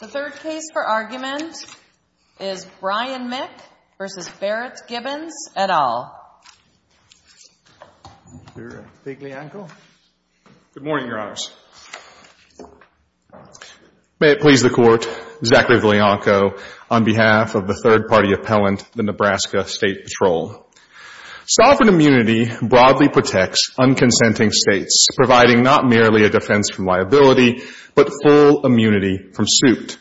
The third case for argument is Brian Mick v. Barrett Gibbons, et al. Mr. Viglianco? Good morning, Your Honors. May it please the Court, this is Zachary Viglianco on behalf of the third-party appellant, the Nebraska State Patrol. Sovereign immunity broadly protects unconsenting states, providing not merely a defense from liability, but full immunity from suit.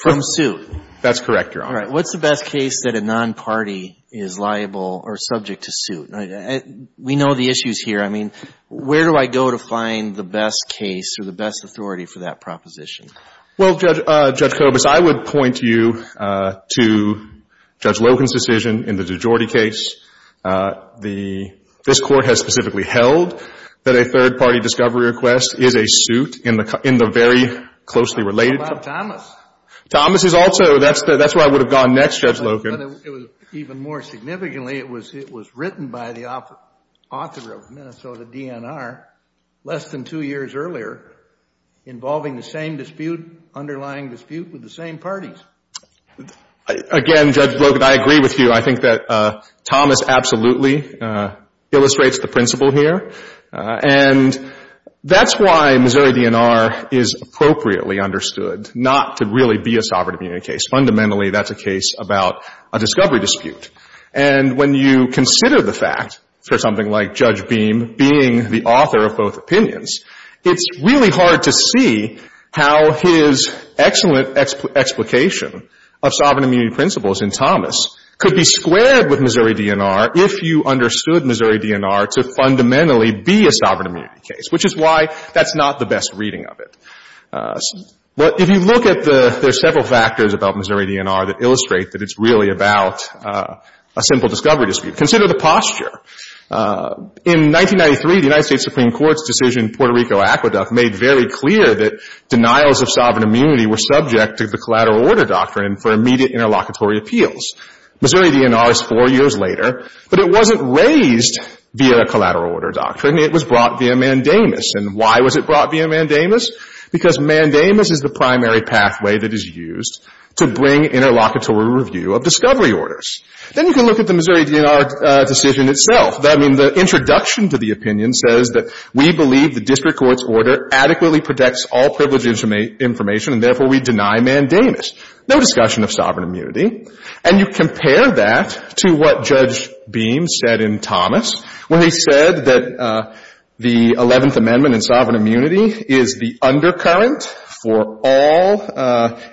From suit? That's correct, Your Honor. All right. What's the best case that a non-party is liable or subject to suit? We know the issues here. I mean, where do I go to find the best case or the best authority for that proposition? Well, Judge Kobus, I would point you to Judge Loken's decision in the DiGiordi case. The — this Court has specifically held that a third-party discovery request is a suit in the very closely related — What about Thomas? Thomas is also — that's where I would have gone next, Judge Loken. Even more significantly, it was written by the author of Minnesota DNR less than two years earlier involving the same dispute, underlying dispute with the same parties. Again, Judge Loken, I agree with you. I think that Thomas absolutely illustrates the principle here. And that's why Missouri DNR is appropriately understood, not to really be a sovereign immunity case. Fundamentally, that's a case about a discovery dispute. And when you consider the fact for something like Judge Beam being the author of both opinions, it's really hard to see how his excellent explication of sovereign immunity principles in Thomas could be squared with Missouri DNR if you understood Missouri DNR to fundamentally be a sovereign immunity case, which is why that's not the best reading of it. If you look at the — there are several factors about Missouri DNR that illustrate that it's really about a simple discovery dispute. Consider the posture. In 1993, the United States Supreme Court's decision in Puerto Rico aqueduct made very clear that denials of sovereign immunity were subject to the collateral order doctrine for immediate interlocutory appeals. Missouri DNR is four years later, but it wasn't raised via a collateral order doctrine. It was brought via mandamus. And why was it brought via mandamus? Because mandamus is the primary pathway that is used to bring interlocutory review of discovery orders. Then you can look at the Missouri DNR decision itself. I mean, the introduction to the opinion says that we believe the district court's order adequately protects all privileged information, and therefore we deny mandamus. No discussion of sovereign immunity. And you compare that to what Judge Beam said in Thomas when he said that the Eleventh Amendment and sovereign immunity is the undercurrent for all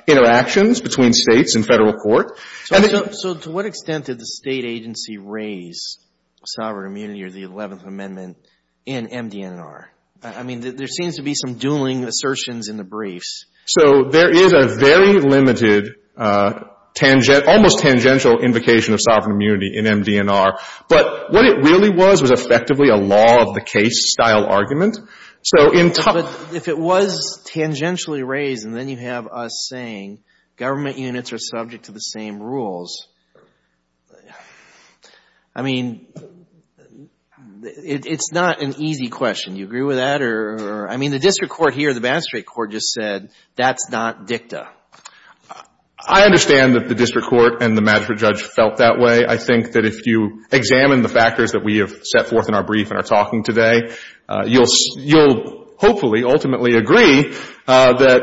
interactions between States in Federal court. So to what extent did the State agency raise sovereign immunity or the Eleventh Amendment in MDNR? I mean, there seems to be some dueling assertions in the briefs. So there is a very limited, almost tangential invocation of sovereign immunity in MDNR. But what it really was was effectively a law-of-the-case style argument. So in Thomas ---- But if it was tangentially raised and then you have us saying government units are subject to the same rules, I mean, it's not an easy question. Do you agree with that? I mean, the district court here, the magistrate court, just said that's not dicta. I understand that the district court and the magistrate judge felt that way. I think that if you examine the factors that we have set forth in our brief and are talking today, you'll hopefully ultimately agree that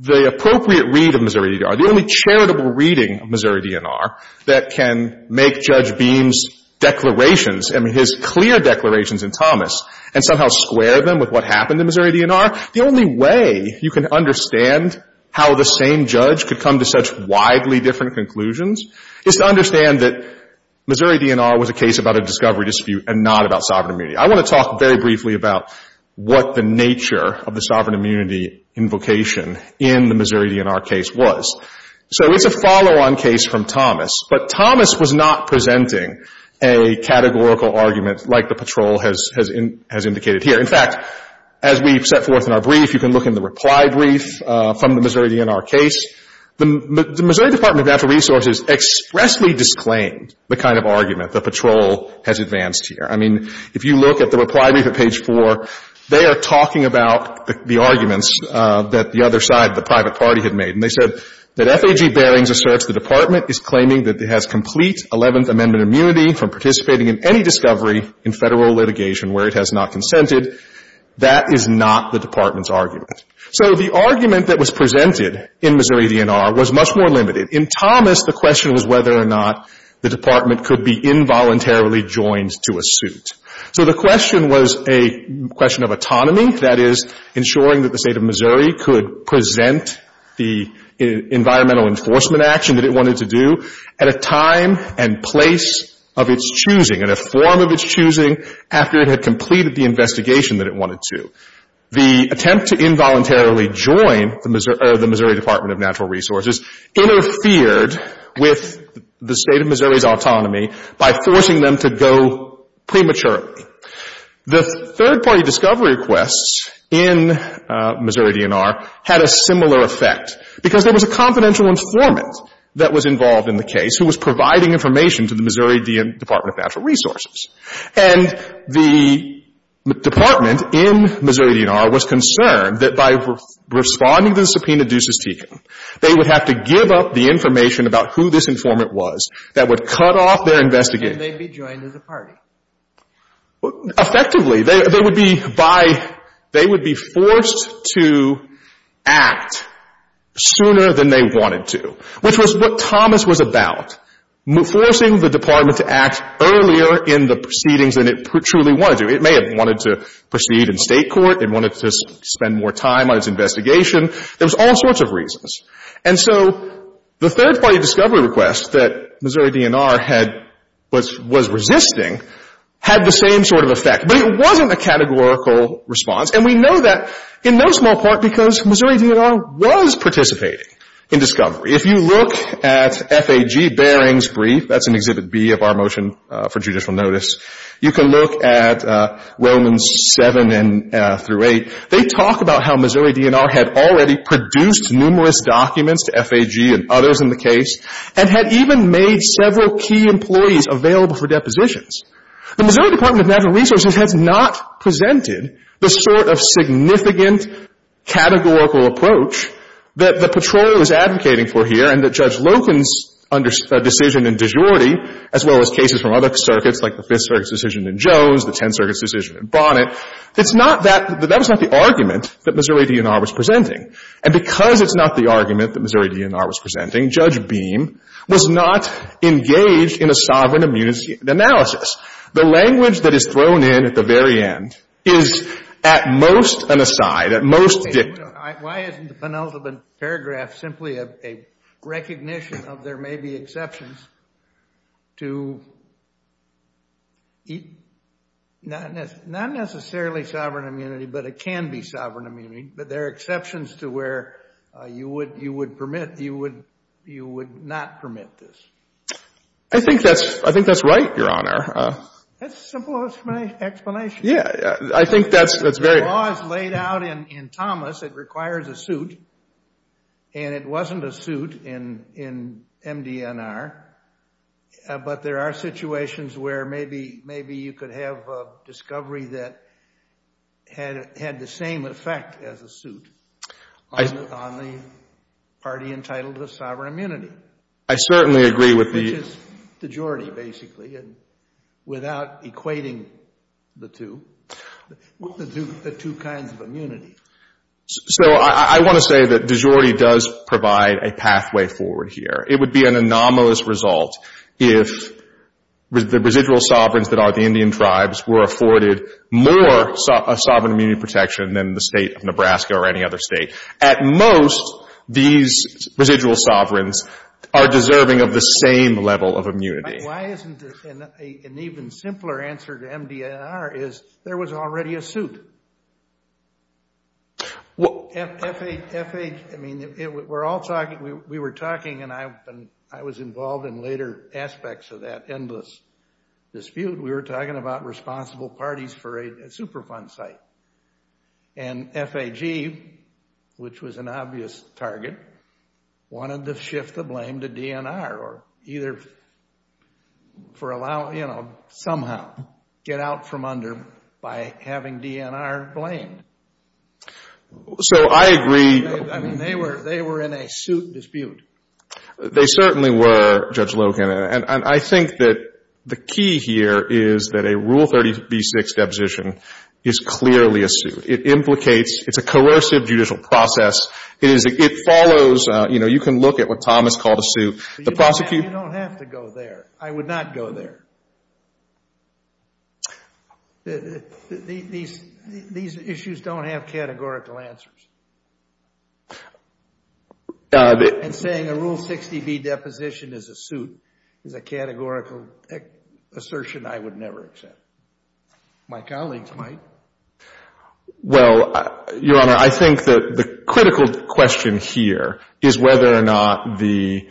the appropriate read of Missouri DNR, the only charitable reading of Missouri DNR that can make Judge Beam's declarations and his clear declarations in Thomas and somehow square them with what happened in Missouri DNR, the only way you can understand how the same judge could come to such widely different conclusions is to understand that Missouri DNR was a case about a discovery dispute and not about sovereign immunity. I want to talk very briefly about what the nature of the sovereign immunity invocation in the Missouri DNR case was. So it's a follow-on case from Thomas, but Thomas was not presenting a categorical argument like the patrol has indicated here. In fact, as we set forth in our brief, you can look in the reply brief from the Missouri DNR case. The Missouri Department of Natural Resources expressly disclaimed the kind of argument the patrol has advanced here. I mean, if you look at the reply brief at page 4, they are talking about the arguments that the other side, the private party, had made. And they said that FAG Barings asserts the Department is claiming that it has complete Eleventh Amendment immunity from participating in any discovery in Federal litigation where it has not consented. That is not the Department's argument. So the argument that was presented in Missouri DNR was much more limited. In Thomas, the question was whether or not the Department could be involuntarily joined to a suit. So the question was a question of autonomy, that is, ensuring that the State of Missouri could present the environmental enforcement action that it wanted to do at a time and place of its choosing, in a form of its choosing, after it had completed the investigation that it wanted to. The attempt to involuntarily join the Missouri Department of Natural Resources interfered with the State of Missouri's autonomy by forcing them to go prematurely. The third-party discovery requests in Missouri DNR had a similar effect, because there was a confidential informant that was involved in the case who was providing information to the Missouri Department of Natural Resources. And the Department in Missouri DNR was concerned that by responding to the subpoena they would have to give up the information about who this informant was that would cut off their investigation. And they'd be joined as a party. Effectively. They would be by they would be forced to act sooner than they wanted to, which was what Thomas was about, forcing the Department to act earlier in the proceedings than it truly wanted to. It may have wanted to proceed in State court. It wanted to spend more time on its investigation. There was all sorts of reasons. And so the third-party discovery requests that Missouri DNR had was resisting had the same sort of effect. But it wasn't a categorical response. And we know that in no small part because Missouri DNR was participating in discovery. If you look at FAG Baring's brief, that's in Exhibit B of our motion for judicial notice, you can look at Romans 7 through 8. They talk about how Missouri DNR had already produced numerous documents to FAG and others in the case and had even made several key employees available for depositions. The Missouri Department of Natural Resources has not presented the sort of significant categorical approach that the Patrol is advocating for here and that Judge Loken's decision in De Jure, as well as cases from other circuits, like the Fifth Circuit's decision in Jones, the Tenth Circuit's decision in Bonnet. It's not that — that was not the argument that Missouri DNR was presenting. And because it's not the argument that Missouri DNR was presenting, Judge Beam was not engaged in a sovereign immunity analysis. The language that is thrown in at the very end is at most an aside, at most dictum. Why isn't the penultimate paragraph simply a recognition of there may be exceptions to not necessarily sovereign immunity, but it can be sovereign immunity, but there are exceptions to where you would permit, you would not permit this? I think that's right, Your Honor. That's as simple as my explanation. Yeah, I think that's very — The law is laid out in Thomas. It requires a suit, and it wasn't a suit in MDNR. But there are situations where maybe you could have a discovery that had the same effect as a suit on the party entitled to sovereign immunity. I certainly agree with the — So I want to say that de jure does provide a pathway forward here. It would be an anomalous result if the residual sovereigns that are the Indian tribes were afforded more sovereign immunity protection than the State of Nebraska or any other State. At most, these residual sovereigns are deserving of the same level of immunity. Why isn't an even simpler answer to MDNR is there was already a suit? We're all talking — we were talking, and I was involved in later aspects of that endless dispute. We were talking about responsible parties for a Superfund site, and FAG, which was an you know, somehow get out from under by having DNR blamed. So I agree — I mean, they were in a suit dispute. They certainly were, Judge Logan. And I think that the key here is that a Rule 36 deposition is clearly a suit. It implicates — it's a coercive judicial process. It follows — you know, you can look at what Thomas called a suit. You don't have to go there. I would not go there. These issues don't have categorical answers. And saying a Rule 60B deposition is a suit is a categorical assertion I would never accept. My colleagues might. Well, Your Honor, I think that the critical question here is whether or not the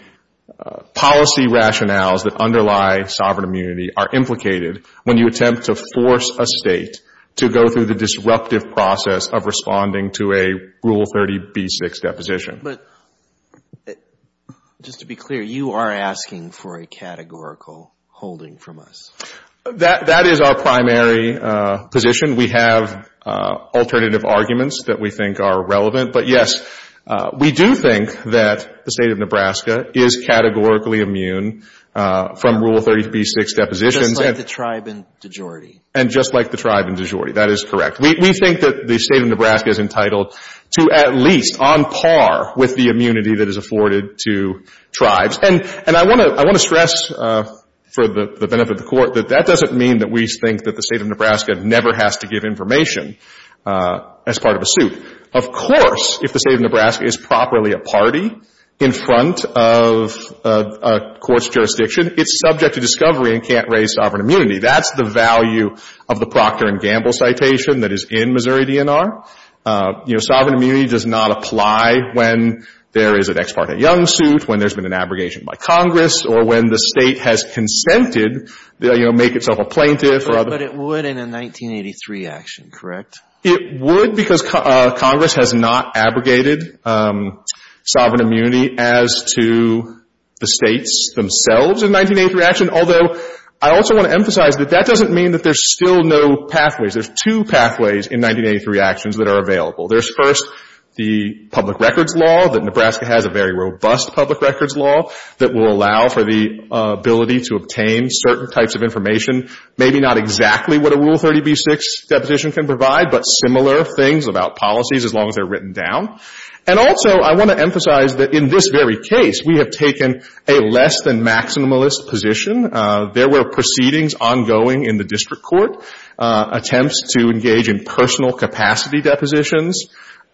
policy rationales that underlie sovereign immunity are implicated when you attempt to force a State to go through the disruptive process of responding to a Rule 30B6 deposition. But just to be clear, you are asking for a categorical holding from us. That is our primary position. We have alternative arguments that we think are relevant. But, yes, we do think that the State of Nebraska is categorically immune from Rule 30B6 depositions. Just like the tribe in DeJordi. And just like the tribe in DeJordi. That is correct. We think that the State of Nebraska is entitled to at least on par with the immunity that is afforded to tribes. And I want to stress for the benefit of the Court that that doesn't mean that we think that the State of Nebraska never has to give information as part of a suit. Of course, if the State of Nebraska is properly a party in front of a court's jurisdiction, it's subject to discovery and can't raise sovereign immunity. That's the value of the Procter & Gamble citation that is in Missouri DNR. You know, sovereign immunity does not apply when there is an ex parte young suit, when there's been an abrogation by Congress, or when the State has consented, you know, make itself a plaintiff. But it would in a 1983 action, correct? It would because Congress has not abrogated sovereign immunity as to the States themselves in 1983 action. Although, I also want to emphasize that that doesn't mean that there's still no pathways. There's two pathways in 1983 actions that are available. There's first the public records law, that Nebraska has a very robust public records law that will allow for the ability to obtain certain types of information. Maybe not exactly what a Rule 30b-6 deposition can provide, but similar things about policies as long as they're written down. And also, I want to emphasize that in this very case, we have taken a less than maximalist position. There were proceedings ongoing in the district court, attempts to engage in personal capacity depositions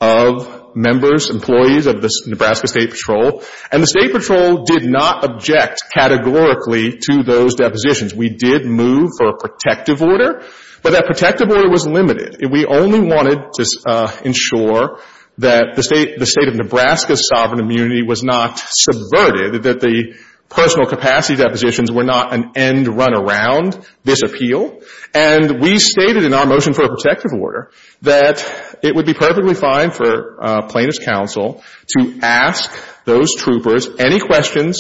of members, employees of the Nebraska State Patrol. And the State Patrol did not object categorically to those depositions. We did move for a protective order, but that protective order was limited. We only wanted to ensure that the State of Nebraska's sovereign immunity was not subverted, that the personal capacity depositions were not an end run around this appeal. And we stated in our motion for a protective order that it would be perfectly fine for plaintiff's counsel to ask those troopers any questions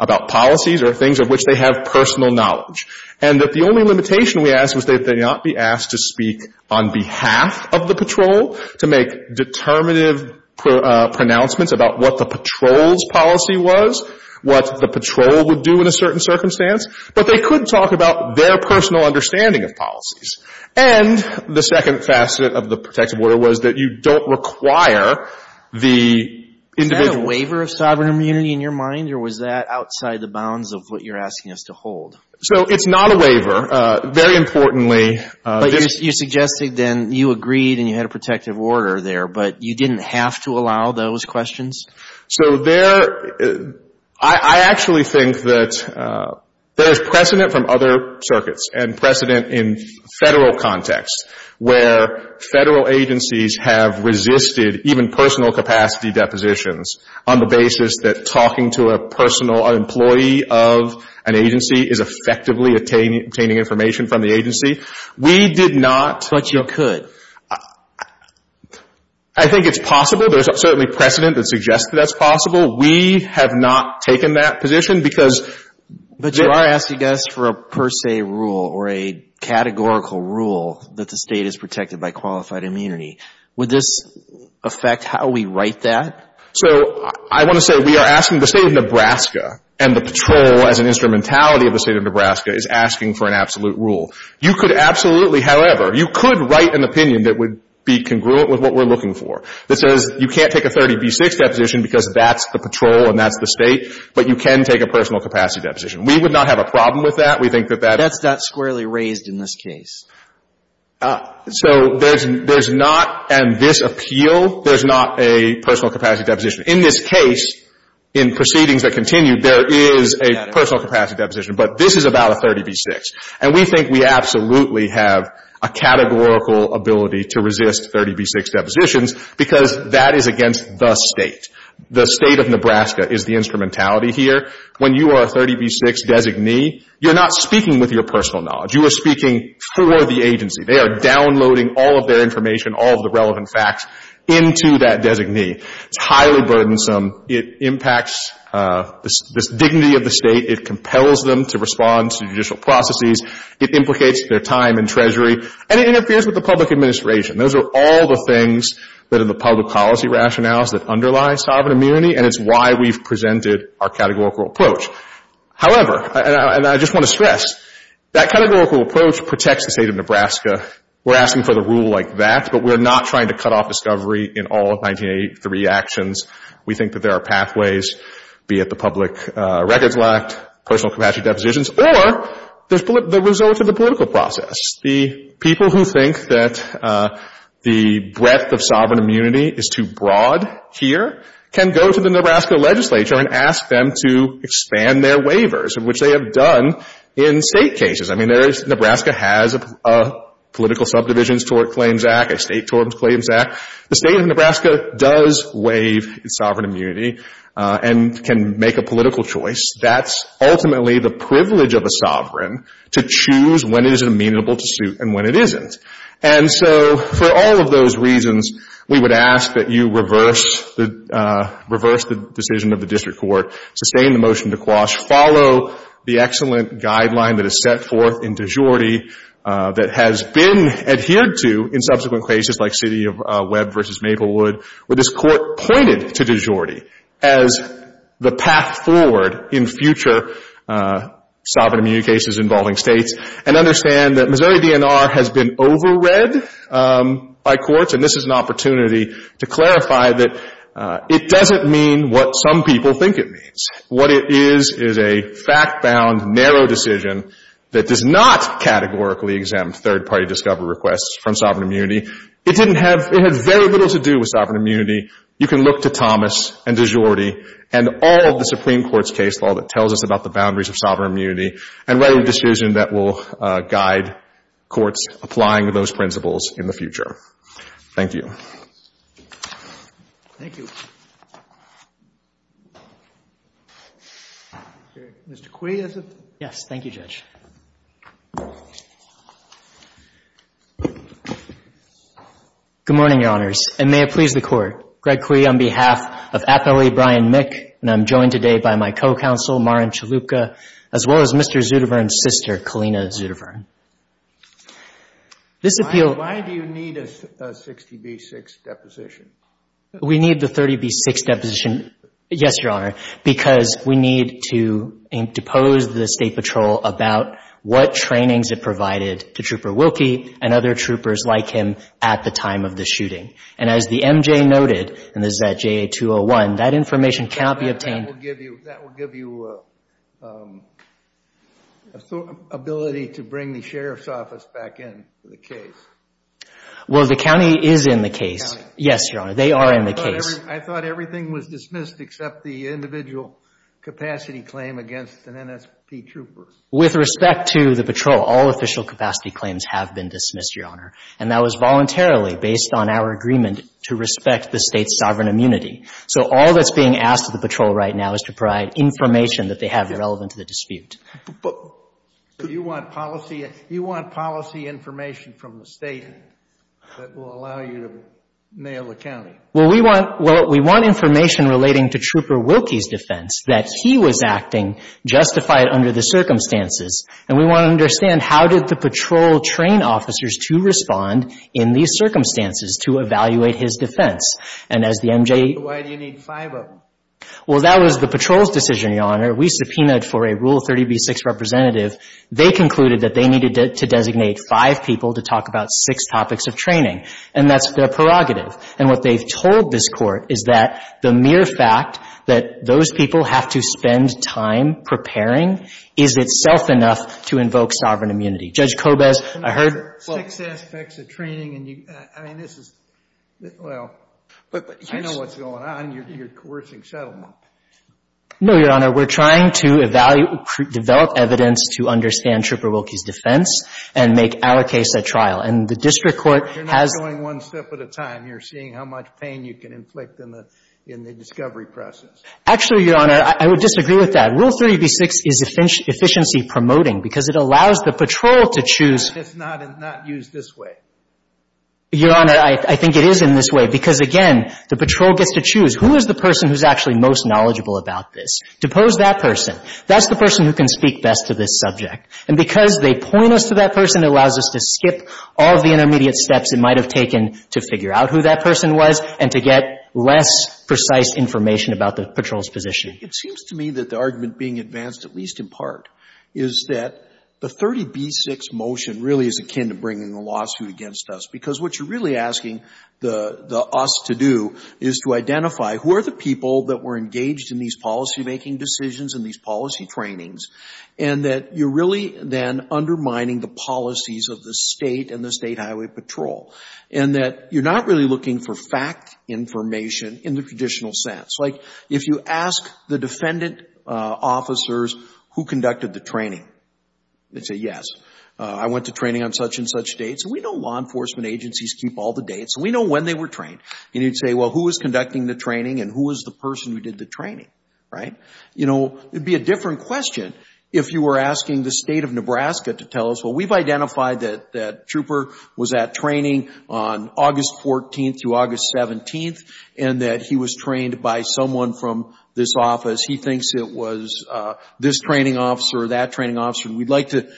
about policies or things of which they have personal knowledge, and that the only limitation we asked was that they not be asked to speak on behalf of the patrol, to make determinative pronouncements about what the patrol's policy was, what the patrol would do in a certain circumstance. But they could talk about their personal understanding of policies. And the second facet of the protective order was that you don't require the individual. Is that a waiver of sovereign immunity in your mind, or was that outside the bounds of what you're asking us to hold? So it's not a waiver. Very importantly, this — But you suggested then you agreed and you had a protective order there, but you didn't have to allow those questions? So there — I actually think that there's precedent from other circuits and precedent in Federal context where Federal agencies have resisted even personal capacity depositions on the basis that talking to a personal employee of an agency is effectively obtaining information from the agency. We did not — But you could. I think it's possible. There's certainly precedent that suggests that that's possible. We have not taken that position because — But you are asking us for a per se rule or a categorical rule that the State is protected by qualified immunity. Would this affect how we write that? So I want to say we are asking the State of Nebraska, and the patrol as an instrumentality of the State of Nebraska, is asking for an absolute rule. You could absolutely, however, you could write an opinion that would be congruent with what we're looking for that says you can't take a 30B6 deposition because that's the patrol and that's the State, but you can take a personal capacity deposition. We would not have a problem with that. We think that that — That's not squarely raised in this case. So there's not, in this appeal, there's not a personal capacity deposition. In this case, in proceedings that continue, there is a personal capacity deposition. But this is about a 30B6. And we think we absolutely have a categorical ability to resist 30B6 depositions because that is against the State. The State of Nebraska is the instrumentality here. When you are a 30B6 designee, you're not speaking with your personal knowledge. You are speaking for the agency. They are downloading all of their information, all of the relevant facts, into that designee. It's highly burdensome. It impacts the dignity of the State. It compels them to respond to judicial processes. It implicates their time in Treasury. And it interferes with the public administration. Those are all the things that are in the public policy rationales that underlie sovereign immunity, and it's why we've presented our categorical approach. However, and I just want to stress, that categorical approach protects the State of Nebraska. We're asking for the rule like that, but we're not trying to cut off discovery in all of 1983 actions. We think that there are pathways, be it the public records lacked, personal capacity depositions, or the results of the political process. The people who think that the breadth of sovereign immunity is too broad here can go to the Nebraska legislature and ask them to expand their waivers, which they have done in State cases. I mean, Nebraska has a political subdivisions claims act, a State tort claims act. The State of Nebraska does waive its sovereign immunity and can make a political choice. That's ultimately the privilege of a sovereign to choose when it is amenable to suit and when it isn't. And so for all of those reasons, we would ask that you reverse the decision of the district court, sustain the motion to quash, follow the excellent guideline that is set forth in de jure that has been adhered to in subsequent cases like City of Webb v. Maplewood, where this court pointed to de jure as the path forward in future sovereign immunity cases involving States, and understand that Missouri DNR has been overread by courts, and this is an opportunity to clarify that it doesn't mean what some people think it means. What it is is a fact-bound, narrow decision that does not categorically exempt third-party discovery requests from sovereign immunity. It didn't have — it had very little to do with sovereign immunity. You can look to Thomas and de jure and all of the Supreme Court's case law that tells us about the boundaries of sovereign immunity and write a decision that will guide courts applying those principles in the future. Thank you. Thank you. Mr. Quay, is it? Yes. Thank you, Judge. Good morning, Your Honors, and may it please the Court. Greg Quay on behalf of Appellee Brian Mick, and I'm joined today by my co-counsel, Maren Chalupka, as well as Mr. Zutovern's sister, Kalina Zutovern. This appeal — Why do you need a 60B6 deposition? We need the 30B6 deposition, yes, Your Honor, because we need to depose the State Patrol about what trainings it provided to Trooper Wilkie and other troopers like him at the time of the shooting. And as the MJ noted, and this is at JA-201, that information cannot be obtained — Is the county sheriff's office back in the case? Well, the county is in the case. Yes, Your Honor, they are in the case. I thought everything was dismissed except the individual capacity claim against the NSP troopers. With respect to the patrol, all official capacity claims have been dismissed, Your Honor, and that was voluntarily based on our agreement to respect the State's sovereign immunity. So all that's being asked of the patrol right now is to provide information that they have relevant to the dispute. You want policy information from the State that will allow you to mail the county? Well, we want information relating to Trooper Wilkie's defense that he was acting justified under the circumstances, and we want to understand how did the patrol train officers to respond in these circumstances to evaluate his defense. And as the MJ — Why do you need five of them? Well, that was the patrol's decision, Your Honor. We subpoenaed for a Rule 30b-6 representative. They concluded that they needed to designate five people to talk about six topics of training, and that's their prerogative. And what they've told this Court is that the mere fact that those people have to spend time preparing is itself enough to invoke sovereign immunity. Judge Kobes, I heard — Six aspects of training, and you — I mean, this is — well, but you know what's going on. You're coercing settlement. No, Your Honor. We're trying to develop evidence to understand Trooper Wilkie's defense and make our case a trial. And the district court has — You're not going one step at a time. You're seeing how much pain you can inflict in the discovery process. Actually, Your Honor, I would disagree with that. Rule 30b-6 is efficiency promoting because it allows the patrol to choose — It's not used this way. Your Honor, I think it is in this way because, again, the patrol gets to choose. Who is the person who's actually most knowledgeable about this? Depose that person. That's the person who can speak best to this subject. And because they point us to that person, it allows us to skip all of the intermediate steps it might have taken to figure out who that person was and to get less precise information about the patrol's position. It seems to me that the argument being advanced, at least in part, is that the 30b-6 motion really is akin to bringing a lawsuit against us, because what you're really asking the us to do is to identify who are the people that were engaged in these policymaking decisions and these policy trainings, and that you're really then undermining the policies of the State and the State Highway Patrol, and that you're not really looking for fact information in the traditional sense. Like, if you ask the defendant officers who conducted the training, they'd say, yes, I went to training on such and such dates. We know law enforcement agencies keep all the dates. We know when they were trained. And you'd say, well, who was conducting the training, and who was the person who did the training, right? You know, it would be a different question if you were asking the State of Nebraska to tell us, well, we've identified that Trooper was at training on August 14th through August 17th, and that he was trained by someone from this office. He thinks it was this training officer or that training officer, and we'd like to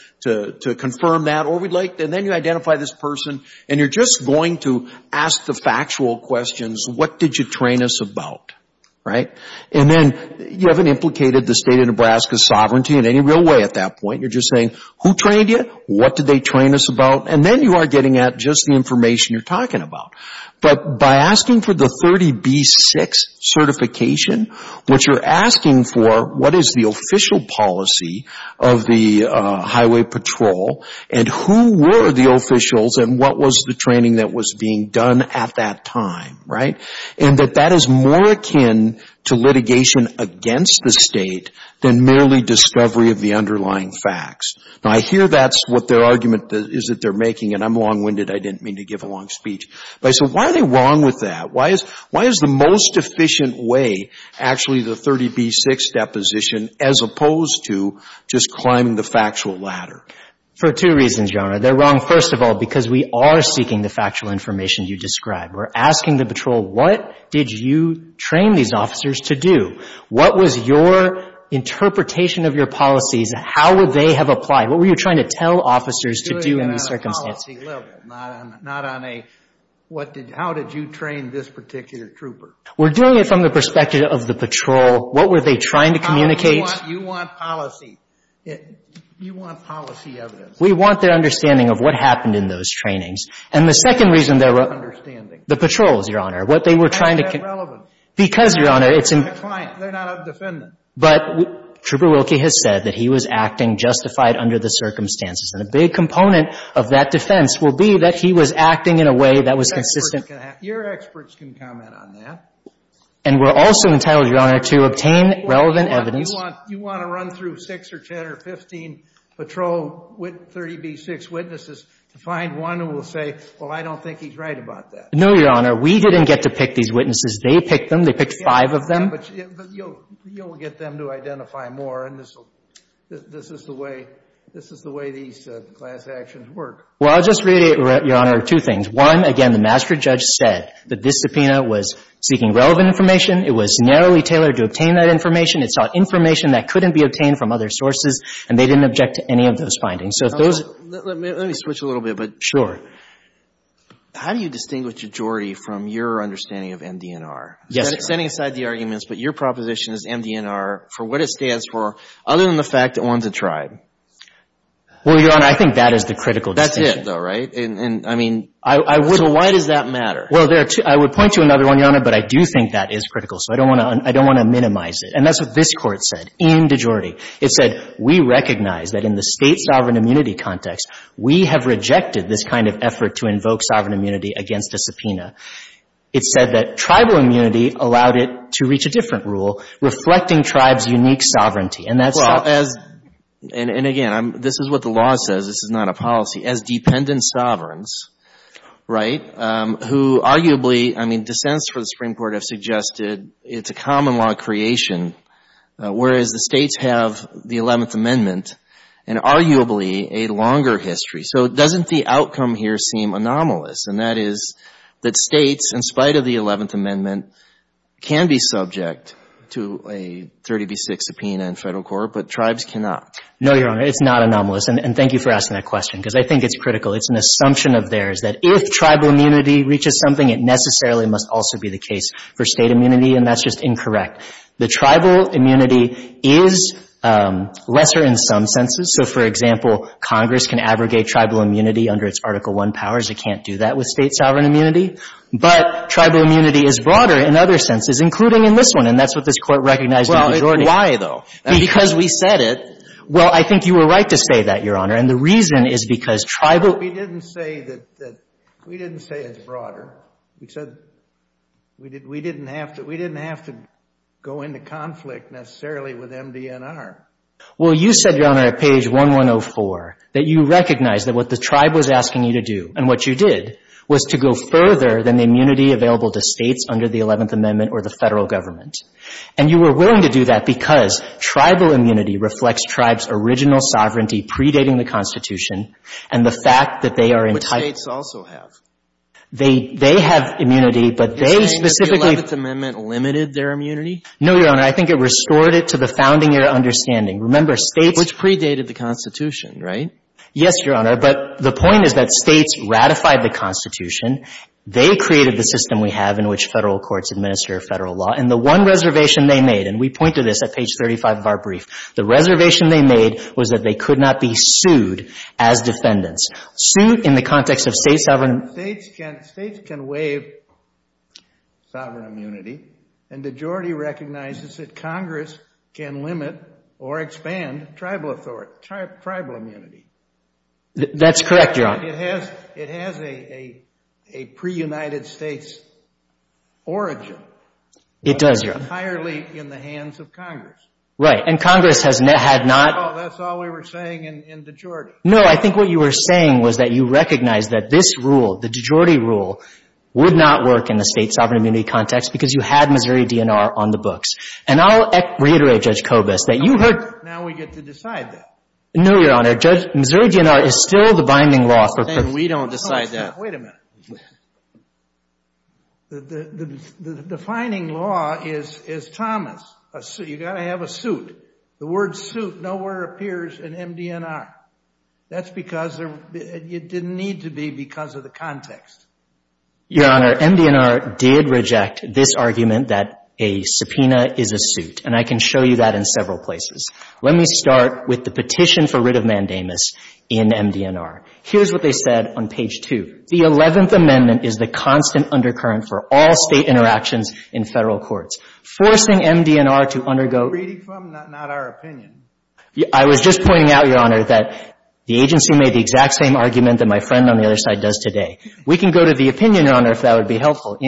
confirm that, and then you identify this person, and you're just going to ask the factual questions, what did you train us about, right? And then you haven't implicated the State of Nebraska's sovereignty in any real way at that point. You're just saying, who trained you? What did they train us about? And then you are getting at just the information you're talking about. But by asking for the 30B6 certification, what you're asking for, what is the Highway Patrol, and who were the officials, and what was the training that was being done at that time, right? And that that is more akin to litigation against the State than merely discovery of the underlying facts. Now, I hear that's what their argument is that they're making, and I'm long-winded. I didn't mean to give a long speech. But I said, why are they wrong with that? Why is the most efficient way actually the 30B6 deposition as opposed to just the factual ladder? For two reasons, Your Honor. They're wrong, first of all, because we are seeking the factual information you described. We're asking the patrol, what did you train these officers to do? What was your interpretation of your policies? How would they have applied? What were you trying to tell officers to do in these circumstances? We're doing it on a policy level, not on a, what did, how did you train this particular trooper? We're doing it from the perspective of the patrol. What were they trying to communicate? You want policy. You want policy evidence. We want their understanding of what happened in those trainings. And the second reason they're wrong, the patrols, Your Honor, what they were trying to, because, Your Honor, it's, but Trooper Wilkie has said that he was acting justified under the circumstances. And a big component of that defense will be that he was acting in a way that was consistent. Your experts can comment on that. And we're also entitled, Your Honor, to obtain relevant evidence. You want to run through six or 10 or 15 patrol 30B6 witnesses to find one who will say, well, I don't think he's right about that. No, Your Honor. We didn't get to pick these witnesses. They picked them. They picked five of them. But you'll get them to identify more. And this is the way, this is the way these class actions work. Well, I'll just reiterate, Your Honor, two things. One, again, the master judge said that this subpoena was seeking relevant information. It was narrowly tailored to obtain that information. It sought information that couldn't be obtained from other sources, and they didn't object to any of those findings. So if those Let me switch a little bit. But Sure. How do you distinguish majority from your understanding of MD&R? Yes, Your Honor. Setting aside the arguments, but your proposition is MD&R, for what it stands for, other than the fact that one's a tribe. Well, Your Honor, I think that is the critical distinction. That's it, though, right? And, I mean, I would So why does that matter? Well, there are two. I would point to another one, Your Honor, but I do think that is critical. So I don't want to minimize it. And that's what this Court said in DeJordi. It said, we recognize that in the state sovereign immunity context, we have rejected this kind of effort to invoke sovereign immunity against a subpoena. It said that tribal immunity allowed it to reach a different rule, reflecting tribes' unique sovereignty. And that's Well, as, and again, this is what the law says. This is not a policy. As dependent sovereigns, right, who arguably, I mean, dissents for the Supreme Court have suggested it's a common law creation, whereas the states have the 11th Amendment and arguably a longer history. So doesn't the outcome here seem anomalous? And that is that states, in spite of the 11th Amendment, can be subject to a 30B6 subpoena in federal court, but tribes cannot. No, Your Honor. It's not anomalous. And thank you for asking that question, because I think it's critical. It's an assumption of theirs that if tribal immunity reaches something, it necessarily must also be the case for state immunity. And that's just incorrect. The tribal immunity is lesser in some senses. So, for example, Congress can abrogate tribal immunity under its Article I powers. It can't do that with state sovereign immunity. But tribal immunity is broader in other senses, including in this one. And that's what this Court recognized in the majority. Well, why, though? Because we said it. Well, I think you were right to say that, Your Honor. And the reason is because tribal We didn't say that it's broader. We said we didn't have to go into conflict necessarily with MDNR. Well, you said, Your Honor, at page 1104, that you recognize that what the tribe was asking you to do and what you did was to go further than the immunity available to states under the 11th Amendment or the federal government. And you were willing to do that because tribal immunity reflects tribes' original sovereignty predating the Constitution and the fact that they are entitled Which states also have. They have immunity, but they specifically You're saying that the 11th Amendment limited their immunity? No, Your Honor. I think it restored it to the founding-year understanding. Remember, states Which predated the Constitution, right? Yes, Your Honor. But the point is that states ratified the Constitution. They created the system we have in which Federal courts administer Federal law. And the one reservation they made, and we point to this at page 35 of our brief, the reservation they made was that they could not be sued as defendants. Sued in the context of state sovereign States can waive sovereign immunity and majority recognizes that Congress can limit or expand tribal immunity. That's correct, Your Honor. It has a pre-United States origin. It does, Your Honor. Entirely in the hands of Congress. Right, and Congress had not That's all we were saying in DeJordi. No, I think what you were saying was that you recognize that this rule, the DeJordi rule, would not work in the state sovereign immunity context because you had Missouri DNR on the books. And I'll reiterate, Judge Kobus, that you heard Now we get to decide that. No, Your Honor. Missouri DNR is still the binding law for We don't decide that. Wait a minute. The defining law is Thomas. You've got to have a suit. The word suit nowhere appears in MDNR. That's because it didn't need to be because of the context. Your Honor, MDNR did reject this argument that a subpoena is a suit. And I can show you that in several places. Let me start with the petition for writ of mandamus in MDNR. Here's what they said on page 2. The 11th Amendment is the constant undercurrent for all state interactions in Federal courts. Forcing MDNR to undergo Reading from, not our opinion. I was just pointing out, Your Honor, that the agency made the exact same argument that my friend on the other side does today. We can go to the opinion, Your Honor, if that would be helpful.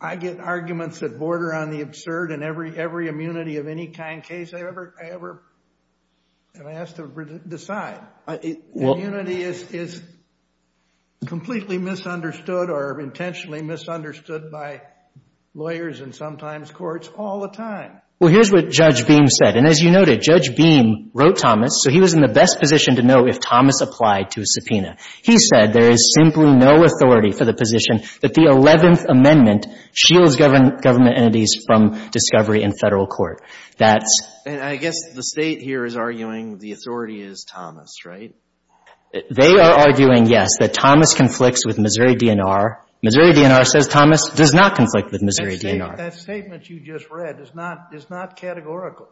I get arguments that border on the absurd in every immunity of any kind case I ever have to decide. Immunity is completely misunderstood or intentionally misunderstood by lawyers and sometimes courts all the time. Well, here's what Judge Beam said. And as you noted, Judge Beam wrote Thomas, so he was in the best position to know if Thomas applied to a subpoena. He said there is simply no authority for the position that the 11th Amendment shields government entities from discovery in Federal court. And I guess the State here is arguing the authority is Thomas, right? They are arguing, yes, that Thomas conflicts with Missouri DNR. Missouri DNR says Thomas does not conflict with Missouri DNR. That statement you just read is not categorical.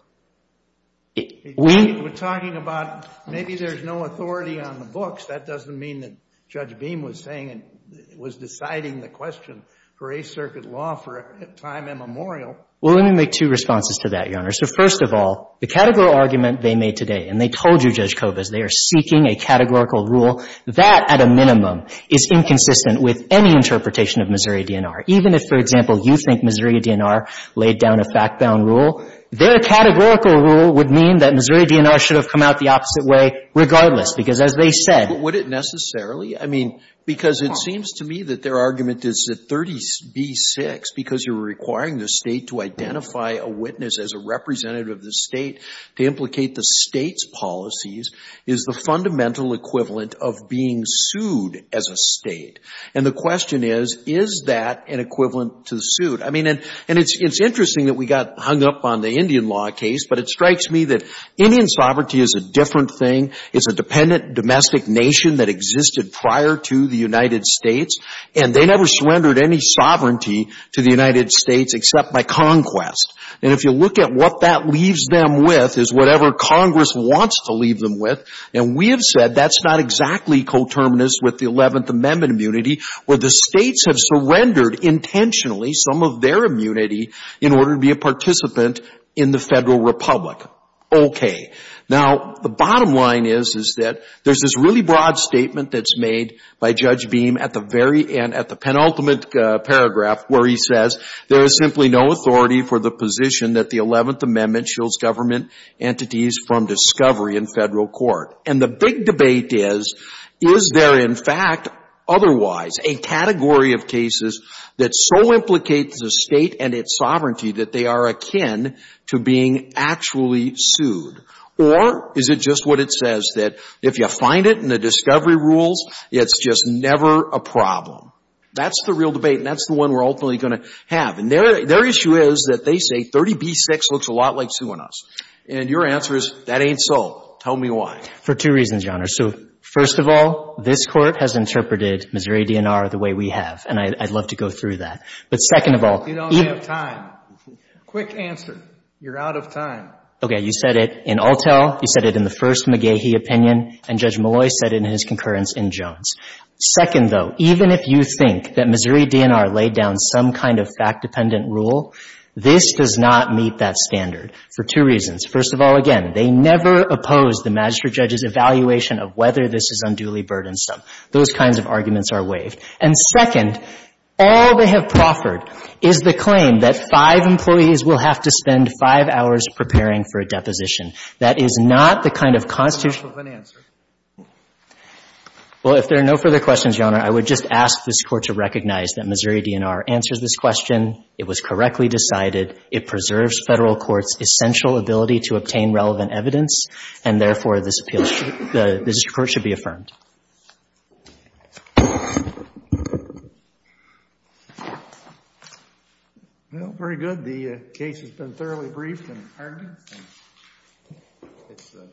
We're talking about maybe there's no authority on the books. That doesn't mean that Judge Beam was saying and was deciding the question for a circuit law for a time immemorial. Well, let me make two responses to that, Your Honor. So, first of all, the categorical argument they made today, and they told you, Judge Kovas, they are seeking a categorical rule. That, at a minimum, is inconsistent with any interpretation of Missouri DNR. Even if, for example, you think Missouri DNR laid down a fact-bound rule, their categorical rule would mean that Missouri DNR should have come out the opposite way regardless, because as they said. But would it necessarily? I mean, because it seems to me that their argument is that 30b-6, because you're requiring the State to identify a witness as a representative of the State to implicate the State's policies, is the fundamental equivalent of being sued as a State. And the question is, is that an equivalent to the suit? I mean, and it's interesting that we got hung up on the Indian law case, but it strikes me that Indian sovereignty is a different thing. It's a dependent domestic nation that existed prior to the United States, and they never surrendered any sovereignty to the United States except by conquest. And if you look at what that leaves them with is whatever Congress wants to leave them with, and we have said that's not exactly coterminous with the Eleventh Amendment immunity, where the States have surrendered intentionally some of their immunity in order to be a participant in the Federal Republic. Okay. Now, the bottom line is, is that there's this really broad statement that's made by Judge Beam at the very end, at the penultimate paragraph, where he says, there is simply no authority for the position that the Eleventh Amendment shields government entities from discovery in Federal court. And the big debate is, is there in fact otherwise a category of cases that so implicate the State and its sovereignty that they are akin to being actually sued? Or is it just what it says, that if you find it in the discovery rules, it's just never a problem? That's the real debate, and that's the one we're ultimately going to have. And their issue is that they say 30b-6 looks a lot like suing us. And your answer is, that ain't so. Tell me why. For two reasons, Your Honor. So, first of all, this Court has interpreted Missouri DNR the way we have, and I'd love to go through that. But second of all — You don't have time. Quick answer. You're out of time. Okay. You said it in Altell. You said it in the first McGehee opinion. And Judge Malloy said it in his concurrence in Jones. Second, though, even if you think that Missouri DNR laid down some kind of fact-dependent rule, this does not meet that standard. For two reasons. First of all, again, they never oppose the magistrate judge's evaluation of whether this is unduly burdensome. Those kinds of arguments are waived. And second, all they have proffered is the claim that five employees will have to spend five hours preparing for a deposition. That is not the kind of constitutional — That's an answer. Well, if there are no further questions, Your Honor, I would just ask this Court to recognize that Missouri DNR answers this question, it was correctly decided, it preserves Federal courts' essential ability to obtain relevant evidence, and therefore, this appeal should — this report should be affirmed. Well, very good. The case has been thoroughly briefed and hardened. It's a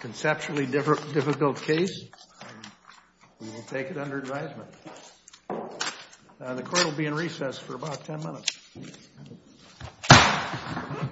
conceptually difficult case. We will take it under advisement. The Court will be in recess for about 10 minutes. Thank you.